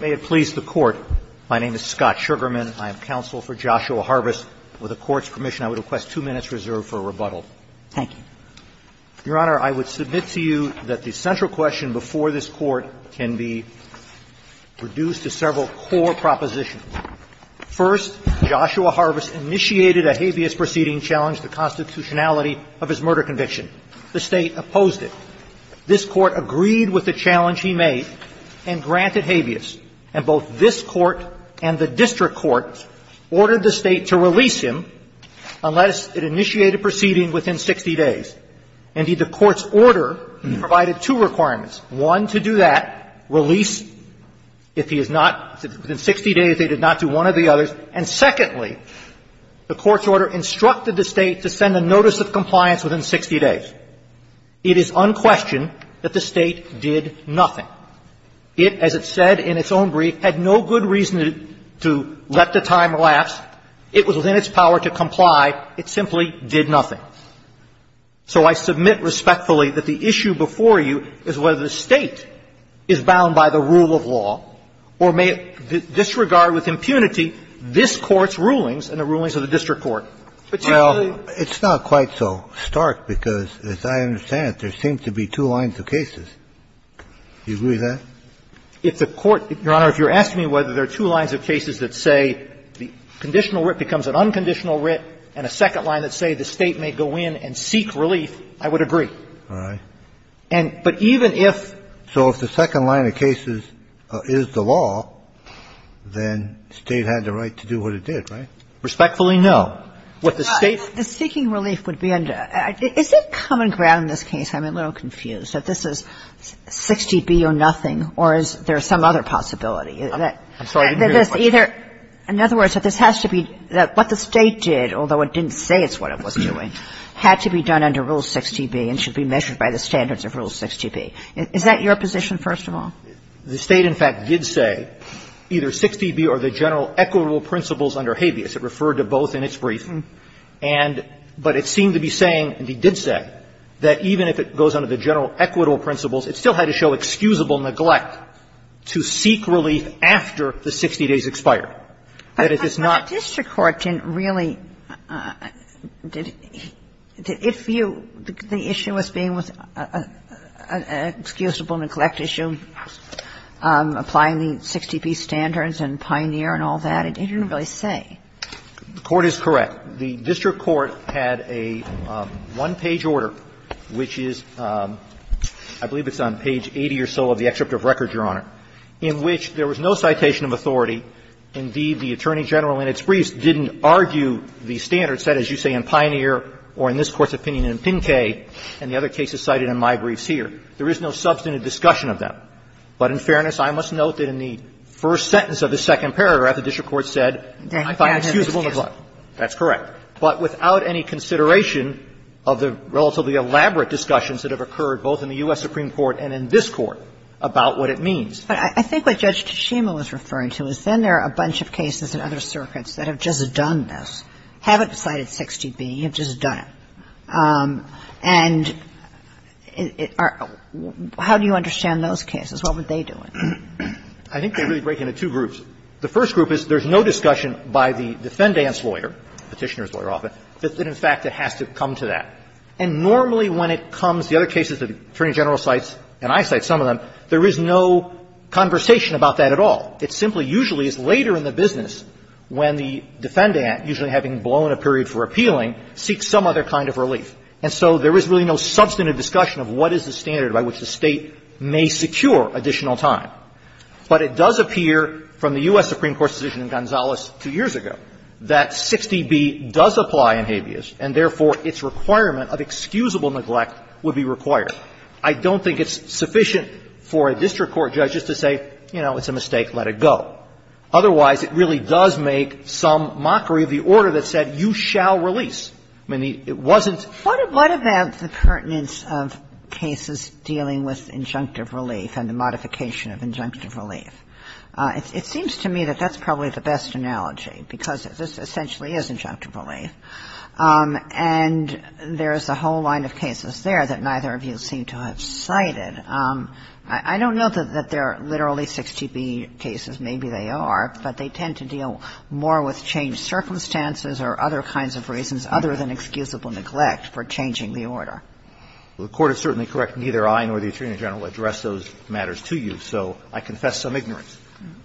May it please the Court, my name is Scott Sugarman, I am counsel for Joshua Harvest. With the Court's permission, I would request two minutes reserved for rebuttal. Thank you. Your Honor, I would submit to you that the central question before this Court can be reduced to several core propositions. First, Joshua Harvest initiated a habeas proceeding to challenge the constitutionality of his murder conviction. The State opposed it. This Court agreed with the challenge he made and granted habeas. And both this Court and the district court ordered the State to release him unless it initiated proceeding within 60 days. Indeed, the Court's order provided two requirements. One, to do that, release, if he is not, within 60 days, they did not do one or the others. And secondly, the Court's order instructed the State to send a notice of compliance within 60 days. It is unquestioned that the State did nothing. It, as it said in its own brief, had no good reason to let the time lapse. It was within its power to comply. It simply did nothing. So I submit respectfully that the issue before you is whether the State is bound by the rule of law or may it disregard with impunity this Court's rulings and the rulings of the district court. But you really don't think that the State is bound by the rule of law. Kennedy, it's not quite so stark because, as I understand it, there seem to be two lines of cases. Do you agree with that? If the Court – Your Honor, if you're asking me whether there are two lines of cases that say the conditional writ becomes an unconditional writ and a second line that says the State may go in and seek relief, I would agree. All right. And – but even if – So if the second line of cases is the law, then State had the right to do what it did, right? Respectfully, no. What the State – The seeking relief would be under – is there common ground in this case? I'm a little confused, that this is 60B or nothing, or is there some other possibility? I'm sorry, I didn't hear your question. Either – in other words, that this has to be – that what the State did, although it didn't say it's what it was doing, had to be done under Rule 60B and should be measured by the standards of Rule 60B. Is that your position, first of all? The State, in fact, did say either 60B or the general equitable principles under habeas. It referred to both in its brief. And – but it seemed to be saying, and it did say, that even if it goes under the general equitable principles, it still had to show excusable neglect to seek relief after the 60 days expired. That if it's not – But the district court didn't really – did it view the issue as being with an excusable neglect issue, applying the 60B standards and Pioneer and all that? It didn't really say. The court is correct. The district court had a one-page order, which is – I believe it's on page 80 or so of the excerpt of record, Your Honor, in which there was no citation of authority. Indeed, the Attorney General in its briefs didn't argue the standards set, as you say, in Pioneer or in this Court's opinion in Pinque, and the other cases cited in my briefs here. There is no substantive discussion of them. But in fairness, I must note that in the first sentence of the second paragraph, the district court said, I find excusable neglect. That's correct. But without any consideration of the relatively elaborate discussions that have occurred both in the U.S. Supreme Court and in this Court about what it means. But I think what Judge Toshima was referring to is then there are a bunch of cases in other circuits that have just done this, haven't cited 60B, have just done it. And it – how do you understand those cases? What were they doing? I think they really break into two groups. The first group is there's no discussion by the defendant's lawyer, Petitioner's lawyer often, that in fact it has to come to that. And normally when it comes – the other cases that the Attorney General cites and I cite some of them, there is no conversation about that at all. It simply usually is later in the business when the defendant, usually having blown a period for appealing, seeks some other kind of relief. And so there is really no substantive discussion of what is the standard by which the State may secure additional time. But it does appear from the U.S. Supreme Court's decision in Gonzales two years ago that 60B does apply in habeas, and therefore its requirement of excusable neglect would be required. I don't think it's sufficient for a district court judge just to say, you know, it's a mistake, let it go. Otherwise, it really does make some mockery of the order that said you shall release. I mean, it wasn't – What about the pertinence of cases dealing with injunctive relief and the modification of injunctive relief? It seems to me that that's probably the best analogy, because this essentially is injunctive relief. And there's a whole line of cases there that neither of you seem to have cited. I don't know that they're literally 60B cases. Maybe they are, but they tend to deal more with changed circumstances or other kinds of reasons other than excusable neglect for changing the order. The Court is certainly correct. Neither I nor the Attorney General addressed those matters to you, so I confess some ignorance.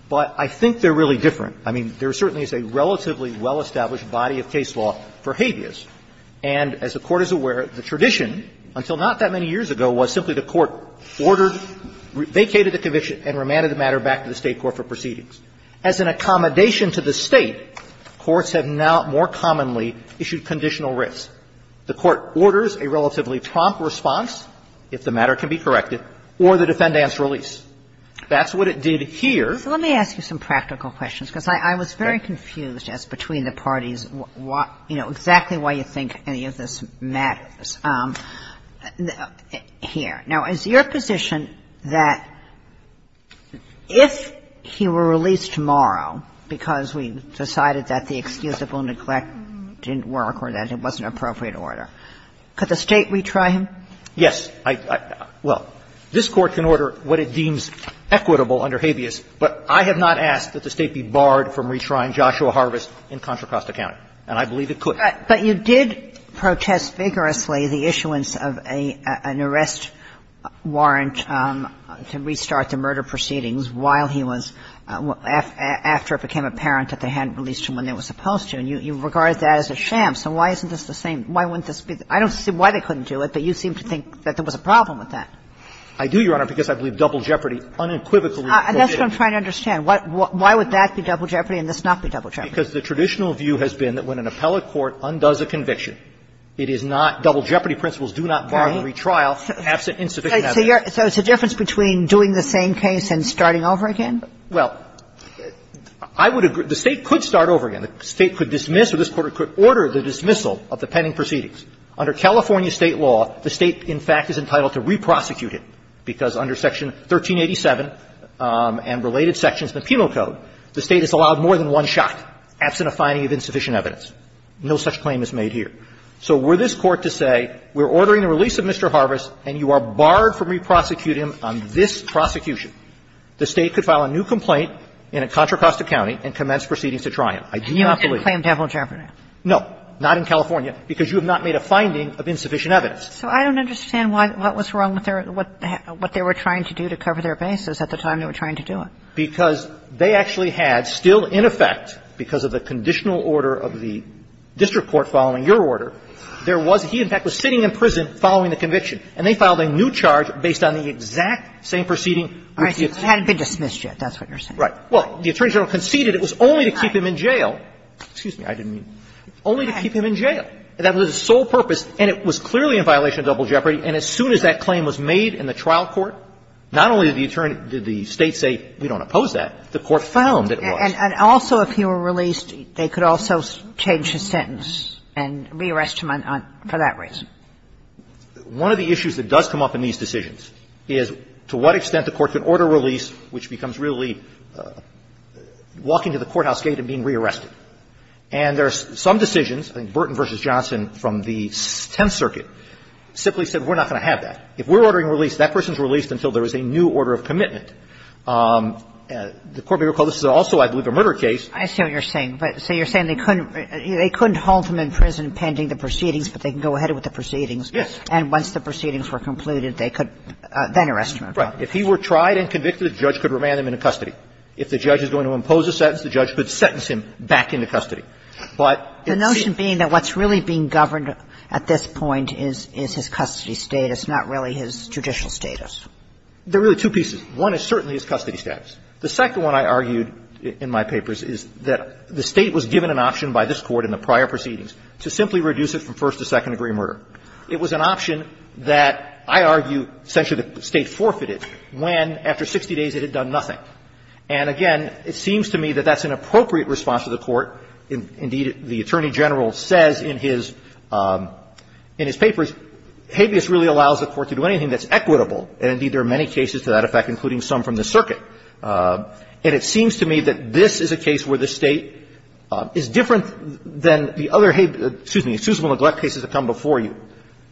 But I think they're really different. I mean, there certainly is a relatively well-established body of case law for habeas. And as the Court is aware, the tradition, until not that many years ago, was simply the Court ordered, vacated the conviction and remanded the matter back to the State court for proceedings. As an accommodation to the State, courts have now more commonly issued conditional writs. The Court orders a relatively prompt response, if the matter can be corrected, or the defendant's release. That's what it did here. Let me ask you some practical questions, because I was very confused as between the parties what, you know, exactly why you think any of this matters here. Now, is your position that if he were released tomorrow because we decided that the excusable neglect didn't work or that it wasn't an appropriate order, could the State retry him? Yes. I don't know. Well, this Court can order what it deems equitable under habeas, but I have not asked that the State be barred from retrying Joshua Harvest in Contra Costa County, and I believe it could. But you did protest vigorously the issuance of an arrest warrant to restart the murder proceedings while he was – after it became apparent that they hadn't released him when they were supposed to, and you regarded that as a sham. So why isn't this the same? Why wouldn't this be – I don't see why they couldn't do it, but you seem to think that there was a problem with that. I do, Your Honor, because I believe double jeopardy unequivocally forbids it. And that's what I'm trying to understand. Why would that be double jeopardy and this not be double jeopardy? Because the traditional view has been that when an appellate court undoes a conviction, it is not – double jeopardy principles do not bar the retrial absent insubstantive evidence. So it's a difference between doing the same case and starting over again? Well, I would agree – the State could start over again. The State could dismiss or this Court could order the dismissal of the pending proceedings. Under California State law, the State, in fact, is entitled to re-prosecute it, because under Section 1387 and related sections of the Penal Code, the State has allowed more than one shot absent a finding of insufficient evidence. No such claim is made here. So were this Court to say, we're ordering the release of Mr. Harvest and you are barred from re-prosecuting him on this prosecution, the State could file a new complaint in Contra Costa County and commence proceedings to try him. I do not believe that. And you wouldn't claim double jeopardy? No, not in California, because you have not made a finding of insufficient evidence. So I don't understand why – what was wrong with their – what they were trying to do to cover their bases at the time they were trying to do it. Because they actually had, still in effect, because of the conditional order of the district court following your order, there was – he, in fact, was sitting in prison following the conviction. And they filed a new charge based on the exact same proceeding. All right, so it hadn't been dismissed yet, that's what you're saying. Right. Well, the Attorney General conceded it was only to keep him in jail. Excuse me, I didn't mean – only to keep him in jail. That was his sole purpose, and it was clearly in violation of double jeopardy. And as soon as that claim was made in the trial court, not only did the State say, we don't oppose that, the Court found that it was. And also, if he were released, they could also change his sentence and re-arrest him on – for that reason. One of the issues that does come up in these decisions is to what extent the Court could order release, which becomes really walking to the courthouse gate and being re-arrested. And there are some decisions, I think Burton v. Johnson from the Tenth Circuit simply said, we're not going to have that. If we're ordering release, that person's released until there is a new order of commitment. The Court may recall this is also, I believe, a murder case. I see what you're saying. But so you're saying they couldn't – they couldn't hold him in prison pending the proceedings, but they can go ahead with the proceedings. Yes. And once the proceedings were concluded, they could then arrest him. Right. If he were tried and convicted, the judge could remand him into custody. If the judge is going to impose a sentence, the judge could sentence him back into custody. But it's – The notion being that what's really being governed at this point is – is his custody status, not really his judicial status. There are really two pieces. One is certainly his custody status. The second one, I argued in my papers, is that the State was given an option by this Court in the prior proceedings to simply reduce it from first to second degree murder. It was an option that I argue essentially the State forfeited when, after 60 days, it had done nothing. And, again, it seems to me that that's an appropriate response to the Court. Indeed, the Attorney General says in his – in his papers, habeas really allows the Court to do anything that's equitable, and, indeed, there are many cases to that effect, including some from the circuit. And it seems to me that this is a case where the State is different than the other – excuse me – excusable neglect cases that come before you.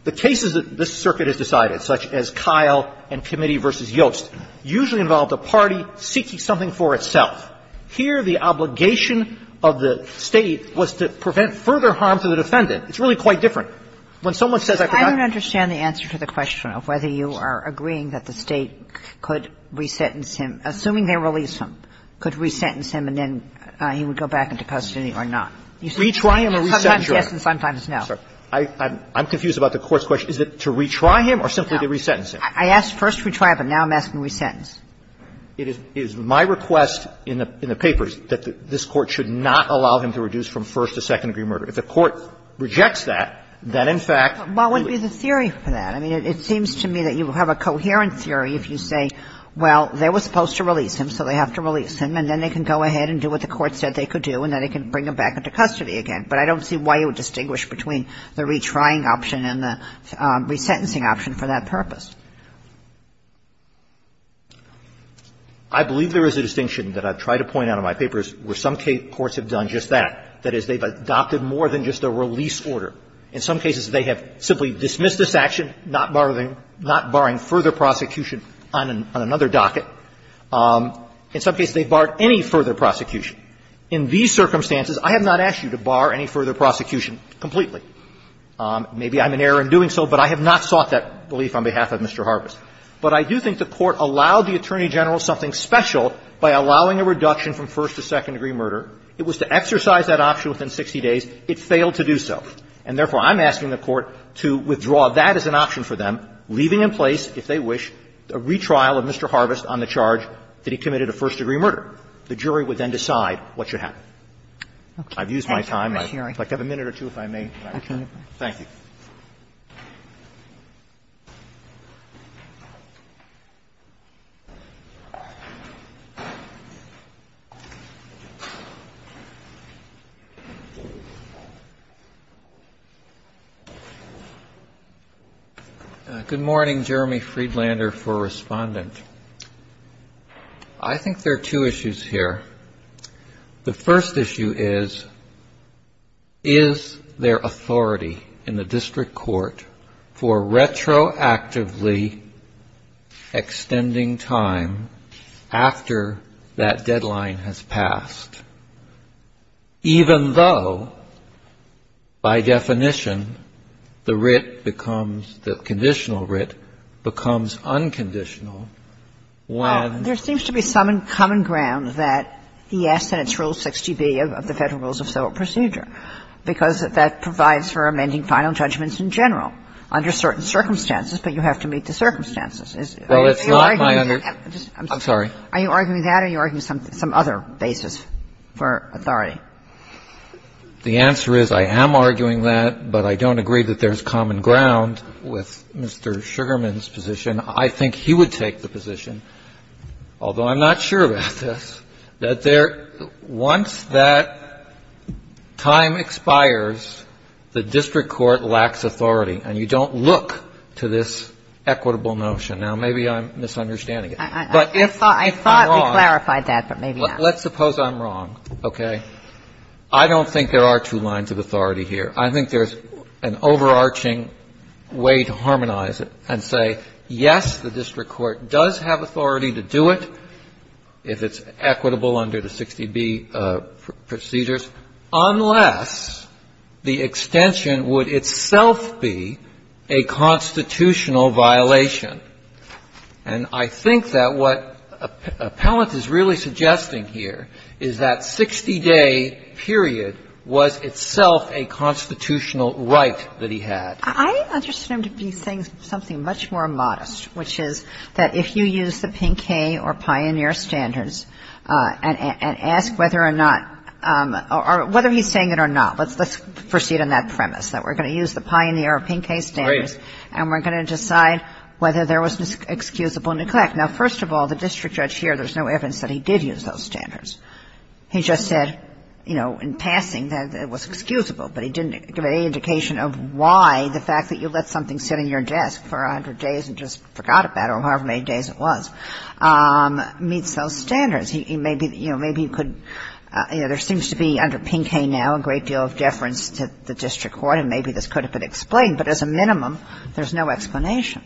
The cases that this circuit has decided, such as Kyle and Committee v. Yost, usually involved a party seeking something for itself. Here, the obligation of the State was to prevent further harm to the defendant. It's really quite different. When someone says I could not do it. Kagan. I don't understand the answer to the question of whether you are agreeing that the State could re-sentence him, assuming they release him, could re-sentence him, and then he would go back into custody or not. You say sometimes yes and sometimes no. I'm confused about the Court's question. Is it to re-try him or simply to re-sentence him? I asked first to re-try him, but now I'm asking re-sentence. It is my request in the papers that this Court should not allow him to reduce from first to second degree murder. If the Court rejects that, then in fact we'll release him. But what would be the theory for that? I mean, it seems to me that you have a coherent theory if you say, well, they were supposed to release him, so they have to release him, and then they can go ahead and do what the Court said they could do, and then they can bring him back into custody again. But I don't see why you would distinguish between the re-trying option and the re-sentencing option for that purpose. I believe there is a distinction that I've tried to point out in my papers where some courts have done just that. That is, they've adopted more than just a release order. In some cases, they have simply dismissed this action, not barring further prosecution on another docket. In some cases, they've barred any further prosecution. In these circumstances, I have not asked you to bar any further prosecution completely. Maybe I'm in error in doing so, but I have not sought that belief on behalf of Mr. Harvest. But I do think the Court allowed the Attorney General something special by allowing a reduction from first to second degree murder. It was to exercise that option within 60 days. It failed to do so. And therefore, I'm asking the Court to withdraw that as an option for them, leaving in place, if they wish, a re-trial of Mr. Harvest on the charge that he committed a first degree murder. The jury would then decide what should happen. I've used my time. I'd like to have a minute or two if I may, if I could. Thank you. Good morning. Jeremy Friedlander for Respondent. I think there are two issues here. The first issue is, is there authority in the district court for retroactively extending time after that deadline has passed, even though, by definition, the writ becomes, the conditional writ becomes unconditional when the rit is extended by the federal rules of civil procedure. And the second issue is, is there authority in the district court for retroactively extending time after that deadline has passed, even though, by definition, by the federal rules of civil procedure. And the third issue is, is there, once that time expires, the district court lacks authority, and you don't look to this equitable notion. Now, maybe I'm misunderstanding it. But if I'm wrong Let's suppose I'm wrong, okay? I don't think there are two lines of authority here. I think there's an overarching way to harmonize it and say, yes, the district court does have authority to do it if it's equitable under the 60B procedures, unless the extension would itself be a constitutional violation. And I think that what Appellant is really suggesting here is that 60-day period was itself a constitutional right that he had. I understand him to be saying something much more modest, which is that if you use the Pinkay or Pioneer standards and ask whether or not or whether he's saying it or not, let's proceed on that premise, that we're going to use the Pioneer or Pinkay standards and we're going to decide whether there was excusable neglect. Now, first of all, the district judge here, there's no evidence that he did use those standards. He just said, you know, in passing that it was excusable, but he didn't give any indication of why the fact that you let something sit on your desk for 100 days and just forgot about it, or however many days it was, meets those standards. He may be, you know, maybe he could, you know, there seems to be under Pinkay now a great deal of deference to the district court, and maybe this could have been explained, but as a minimum, there's no explanation.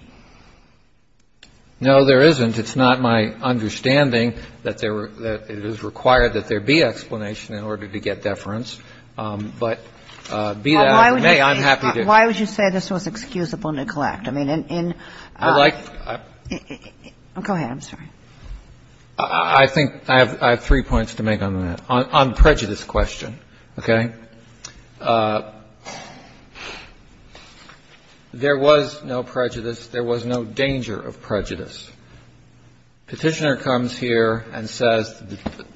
No, there isn't. It's not my understanding that there were that it is required that there be explanation in order to get deference, but be that as it may, I'm happy to. Why would you say this was excusable neglect? I mean, in the like. Go ahead. I'm sorry. I think I have three points to make on that. On prejudice question, okay, there was no prejudice. There was no danger of prejudice. Petitioner comes here and says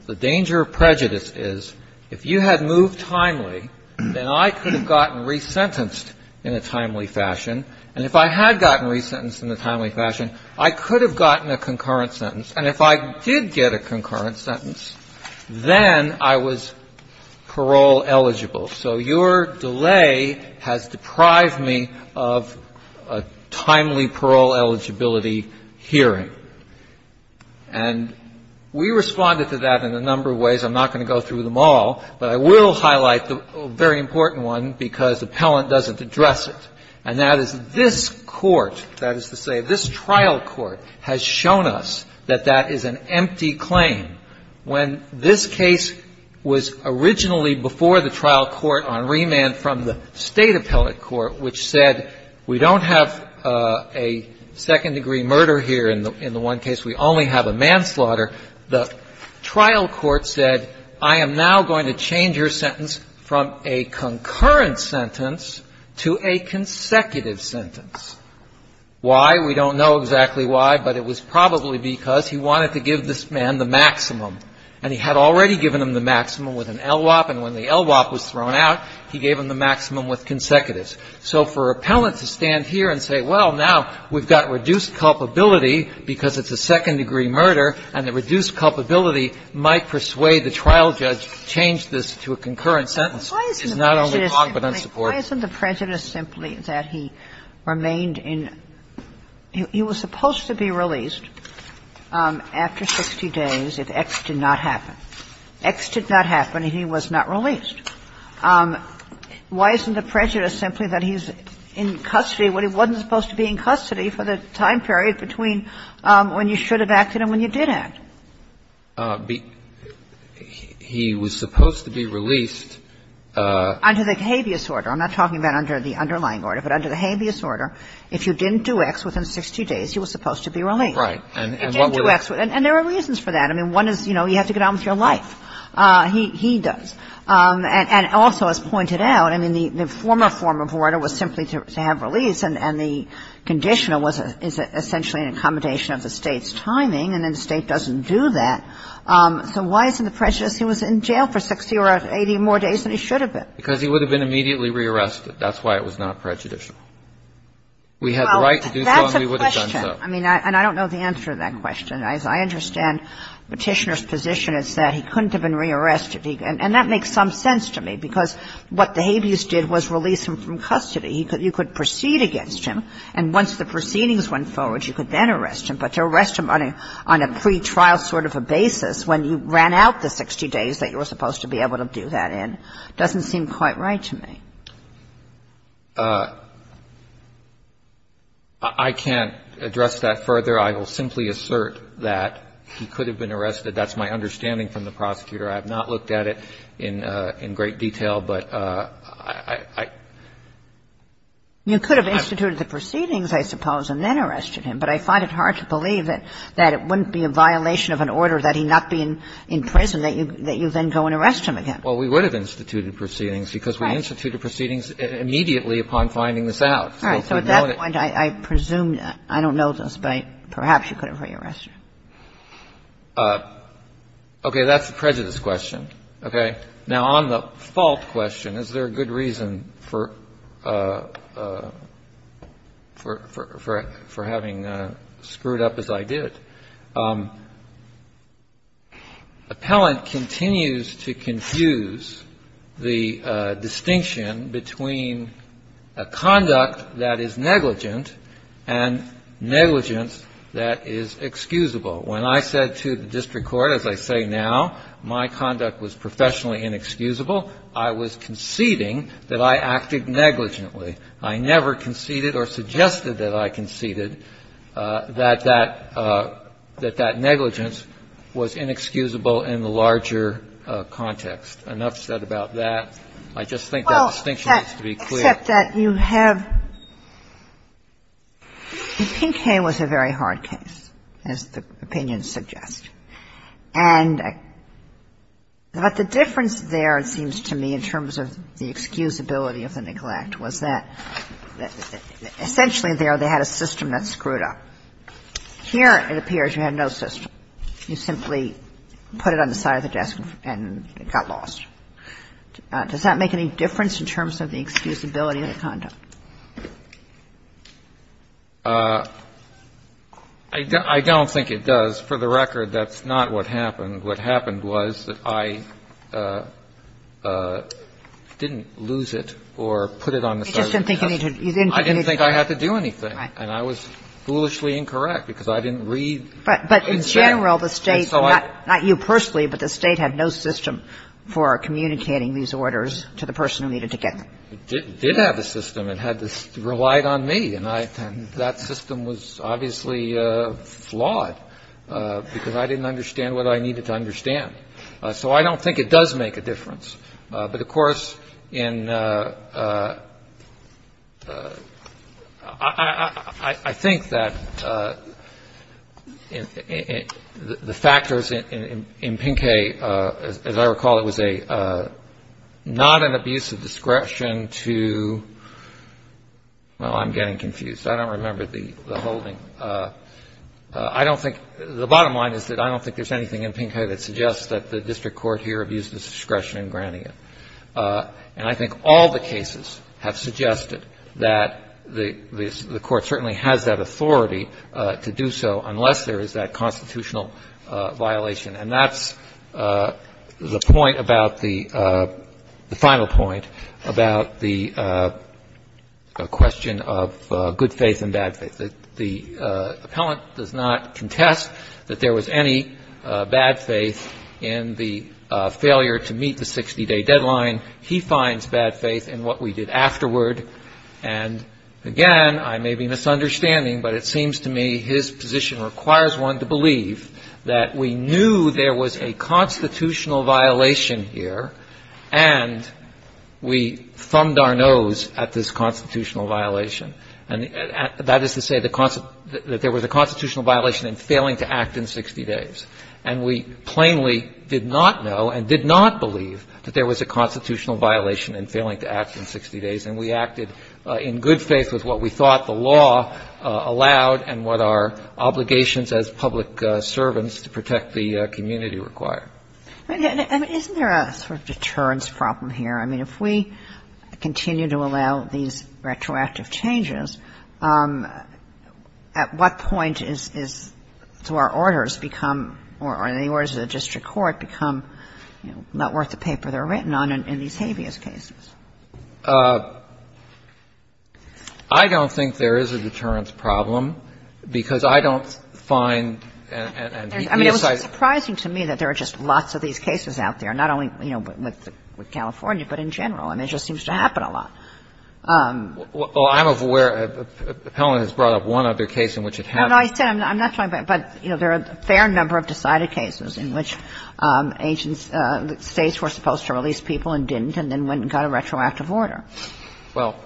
the danger of prejudice is if you had moved timely, then I could have gotten resentenced in a timely fashion, and if I had gotten resentenced in a timely fashion, I could have gotten a concurrent sentence, and if I did get a concurrent sentence, then I was parole eligible. So your delay has deprived me of a timely parole eligibility hearing. And we responded to that in a number of ways. I'm not going to go through them all, but I will highlight the very important one because appellant doesn't address it, and that is this Court, that is to say this trial court, has shown us that that is an empty claim. When this case was originally before the trial court on remand from the State Appellate Court, which said we don't have a second degree murder here in the one case, we only have a manslaughter, the trial court said I am now going to change your sentence from a concurrent sentence to a consecutive sentence. Why? We don't know exactly why, but it was probably because he wanted to give this man the maximum, and he had already given him the maximum with an LWOP, and when the LWOP was thrown out, he gave him the maximum with consecutives. So for an appellant to stand here and say, well, now we've got reduced culpability because it's a second degree murder, and the reduced culpability might persuade the trial judge to change this to a concurrent sentence is not only wrong but unsupportive. Kagan. Why isn't the prejudice simply that he remained in – he was supposed to be released after 60 days if X did not happen. X did not happen, and he was not released. Why isn't the prejudice simply that he's in custody when he wasn't supposed to be in custody for the time period between when you should have acted and when you did act? He was supposed to be released under the habeas order. I'm not talking about under the underlying order, but under the habeas order, if you didn't do X within 60 days, he was supposed to be released. Right. And what were the – And there are reasons for that. I mean, one is, you know, you have to get on with your life. He does. And also, as pointed out, I mean, the former form of order was simply to have release, and the conditional was essentially an accommodation of the State's timing, and then the State doesn't do that. So why isn't the prejudice he was in jail for 60 or 80 more days than he should have been? Because he would have been immediately rearrested. That's why it was not prejudicial. We had the right to do so, and we would have done so. Well, that's a question. I mean, and I don't know the answer to that question. As I understand Petitioner's position, it's that he couldn't have been rearrested. And that makes some sense to me, because what the habeas did was release him from custody. He could – you could proceed against him, and once the proceedings went forward, you could then arrest him. But to arrest him on a pretrial sort of a basis when you ran out the 60 days that you were supposed to be able to do that in doesn't seem quite right to me. I can't address that further. I will simply assert that he could have been arrested. That's my understanding from the prosecutor. I have not looked at it in great detail, but I – I don't have an answer to that. You could have instituted the proceedings, I suppose, and then arrested him. But I find it hard to believe that it wouldn't be a violation of an order that he not be in prison, that you then go and arrest him again. Well, we would have instituted proceedings, because we instituted proceedings immediately upon finding this out. All right. So at that point, I presume – I don't know this, but perhaps you could have rearrested him. Okay. That's a prejudice question. Okay. Now, on the fault question, is there a good reason for having screwed up as I did? Appellant continues to confuse the distinction between a conduct that is negligent and negligence that is excusable. When I said to the district court, as I say now, my conduct was professionally inexcusable, I was conceding that I acted negligently. I never conceded or suggested that I conceded that that negligence was inexcusable in the larger context. Enough said about that. I just think that distinction needs to be clear. Well, except that you have – Pinkham was a very hard case, as the opinion suggests. And the difference there, it seems to me, in terms of the excusability of the neglect was that essentially there they had a system that screwed up. Here, it appears you had no system. You simply put it on the side of the desk and it got lost. Does that make any difference in terms of the excusability of the conduct? I don't think it does. For the record, that's not what happened. What happened was that I didn't lose it or put it on the side of the desk. You just didn't think you needed to do anything. I didn't think I had to do anything. And I was foolishly incorrect because I didn't read. But in general, the State, not you personally, but the State had no system for communicating these orders to the person who needed to get them. It did have a system. It had to – it relied on me. And that system was obviously flawed because I didn't understand what I needed to understand. So I don't think it does make a difference. But of course, in – I think that the factors in Pinkei, as I recall, it was a – not an abuse of discretion to – well, I'm getting confused. I don't remember the holding. I don't think – the bottom line is that I don't think there's anything in Pinkei that suggests that the district court here abused its discretion in granting it. And I think all the cases have suggested that the court certainly has that authority to do so unless there is that constitutional violation. And that's the point about the – the final point about the question of good faith and bad faith. The appellant does not contest that there was any bad faith in the failure to meet the 60-day deadline. He finds bad faith in what we did afterward. And again, I may be misunderstanding, but it seems to me his position requires one to believe that we knew there was a constitutional violation here and we thumbed our nose at this constitutional violation. And that is to say the – that there was a constitutional violation in failing to act in 60 days. And we plainly did not know and did not believe that there was a constitutional violation in failing to act in 60 days. And we acted in good faith with what we thought the law allowed and what our obligations as public servants to protect the community required. And isn't there a sort of deterrence problem here? I mean, if we continue to allow these retroactive changes, at what point is – do our orders become – or the orders of the district court become not worth the paper they're written on in these habeas cases? I don't think there is a deterrence problem, because I don't find and the inside of the case. I mean, it was surprising to me that there are just lots of these cases out there, not only, you know, with California, but in general. I mean, it just seems to happen a lot. Well, I'm aware of – Helen has brought up one other case in which it happened. No, no, I said I'm not talking about – but, you know, there are a fair number of decided cases in which agents – States were supposed to release people and didn't, and then went and got a retroactive order. Well,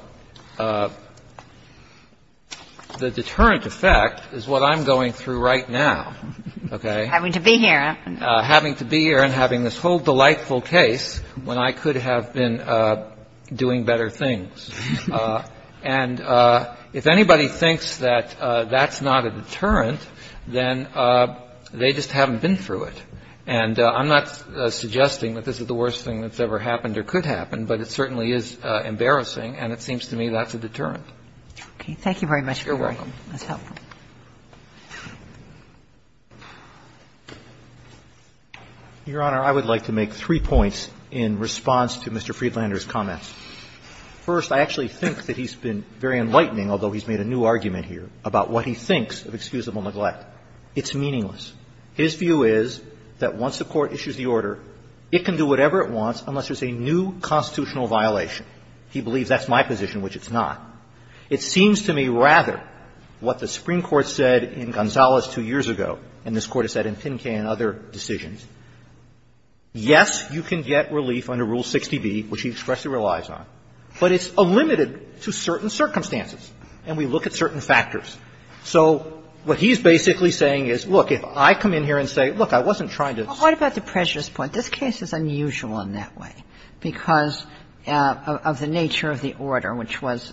the deterrent effect is what I'm going through right now, okay? Having to be here. Having to be here and having this whole delightful case when I could have been doing better things. And if anybody thinks that that's not a deterrent, then they just haven't been through it. And I'm not suggesting that this is the worst thing that's ever happened or could happen, but it certainly is embarrassing, and it seems to me that's a deterrent. Okay. Thank you very much, Your Honor. You're welcome. That's helpful. Your Honor, I would like to make three points in response to Mr. Friedlander's comments. First, I actually think that he's been very enlightening, although he's made a new argument here, about what he thinks of excusable neglect. It's meaningless. His view is that once the Court issues the order, it can do whatever it wants unless there's a new constitutional violation. He believes that's my position, which it's not. It seems to me, rather, what the Supreme Court said in Gonzales two years ago, and this Court has said in Pinca and other decisions, yes, you can get relief under Rule 60b, which he expressly relies on, but it's limited to certain circumstances and we look at certain factors. So what he's basically saying is, look, if I come in here and say, look, I wasn't trying to say this. But what about the prejudice point? This case is unusual in that way because of the nature of the order, which was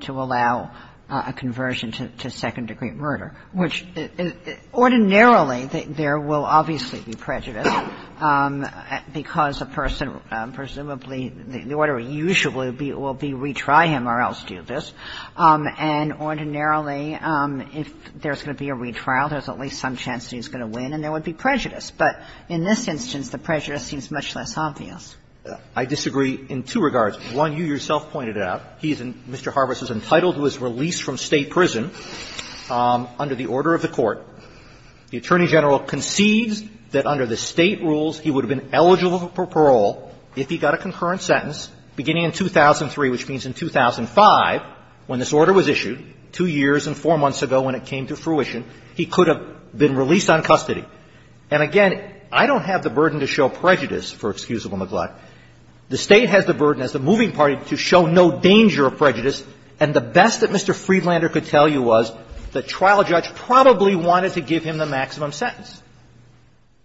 to allow a conversion to second-degree murder, which ordinarily there will obviously be prejudice, because a person presumably the order usually will be retry him or else do this. And ordinarily, if there's going to be a retrial, there's at least some chance he's going to win and there would be prejudice. But in this instance, the prejudice seems much less obvious. I disagree in two regards. One, you yourself pointed out, he's in Mr. Harbis' entitled to his release from State prison under the order of the Court. The Attorney General concedes that under the State rules, he would have been eligible for parole if he got a concurrent sentence beginning in 2003, which means in 2005 when this order was issued, two years and four months ago when it came to fruition, he could have been released on custody. And again, I don't have the burden to show prejudice, for excusable neglect. The State has the burden as the moving party to show no danger of prejudice, and the best that Mr. Friedlander could tell you was the trial judge probably wanted to give him the maximum sentence.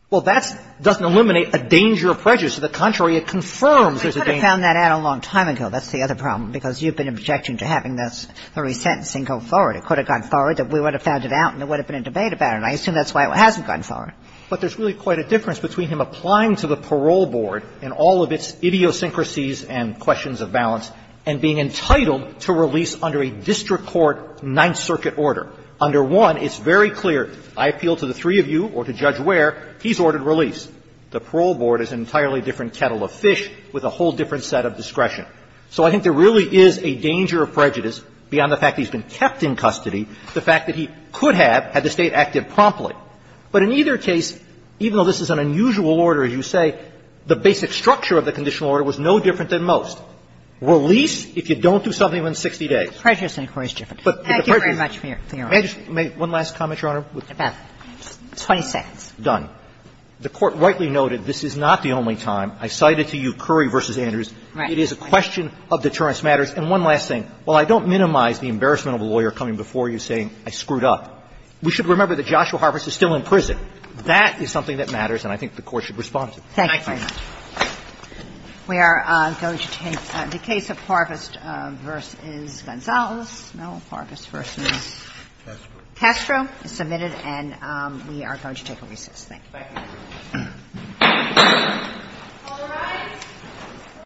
Well, that doesn't eliminate a danger of prejudice. To the contrary, it confirms there's a danger. Kagan. I could have found that out a long time ago. That's the other problem, because you've been objecting to having this re-sentencing go forward. It could have gone forward, we would have found it out, and there would have been a debate about it. And I assume that's why it hasn't gone forward. But there's really quite a difference between him applying to the parole board in all of its idiosyncrasies and questions of balance and being entitled to release under a district court Ninth Circuit order. Under one, it's very clear, I appeal to the three of you or to Judge Ware, he's ordered release. The parole board is an entirely different kettle of fish with a whole different set of discretion. So I think there really is a danger of prejudice beyond the fact that he's been kept in custody, the fact that he could have had the State acted promptly. But in either case, even though this is an unusual order, as you say, the basic structure of the conditional order was no different than most. Release if you don't do something within 60 days. The prejudice inquiry is different. Thank you very much, Your Honor. May I just make one last comment, Your Honor? About 20 seconds. Done. The Court rightly noted this is not the only time. I cited to you Curry v. Andrews. It is a question of deterrence matters. And one last thing. While I don't minimize the embarrassment of a lawyer coming before you saying, I screwed up, we should remember that Joshua Harvest is still in prison. That is something that matters, and I think the Court should respond to it. Thank you very much. We are going to take the case of Harvest v. Gonzales. No, Harvest v. Castro is submitted, and we are going to take a recess. Thank you. Thank you. All rise.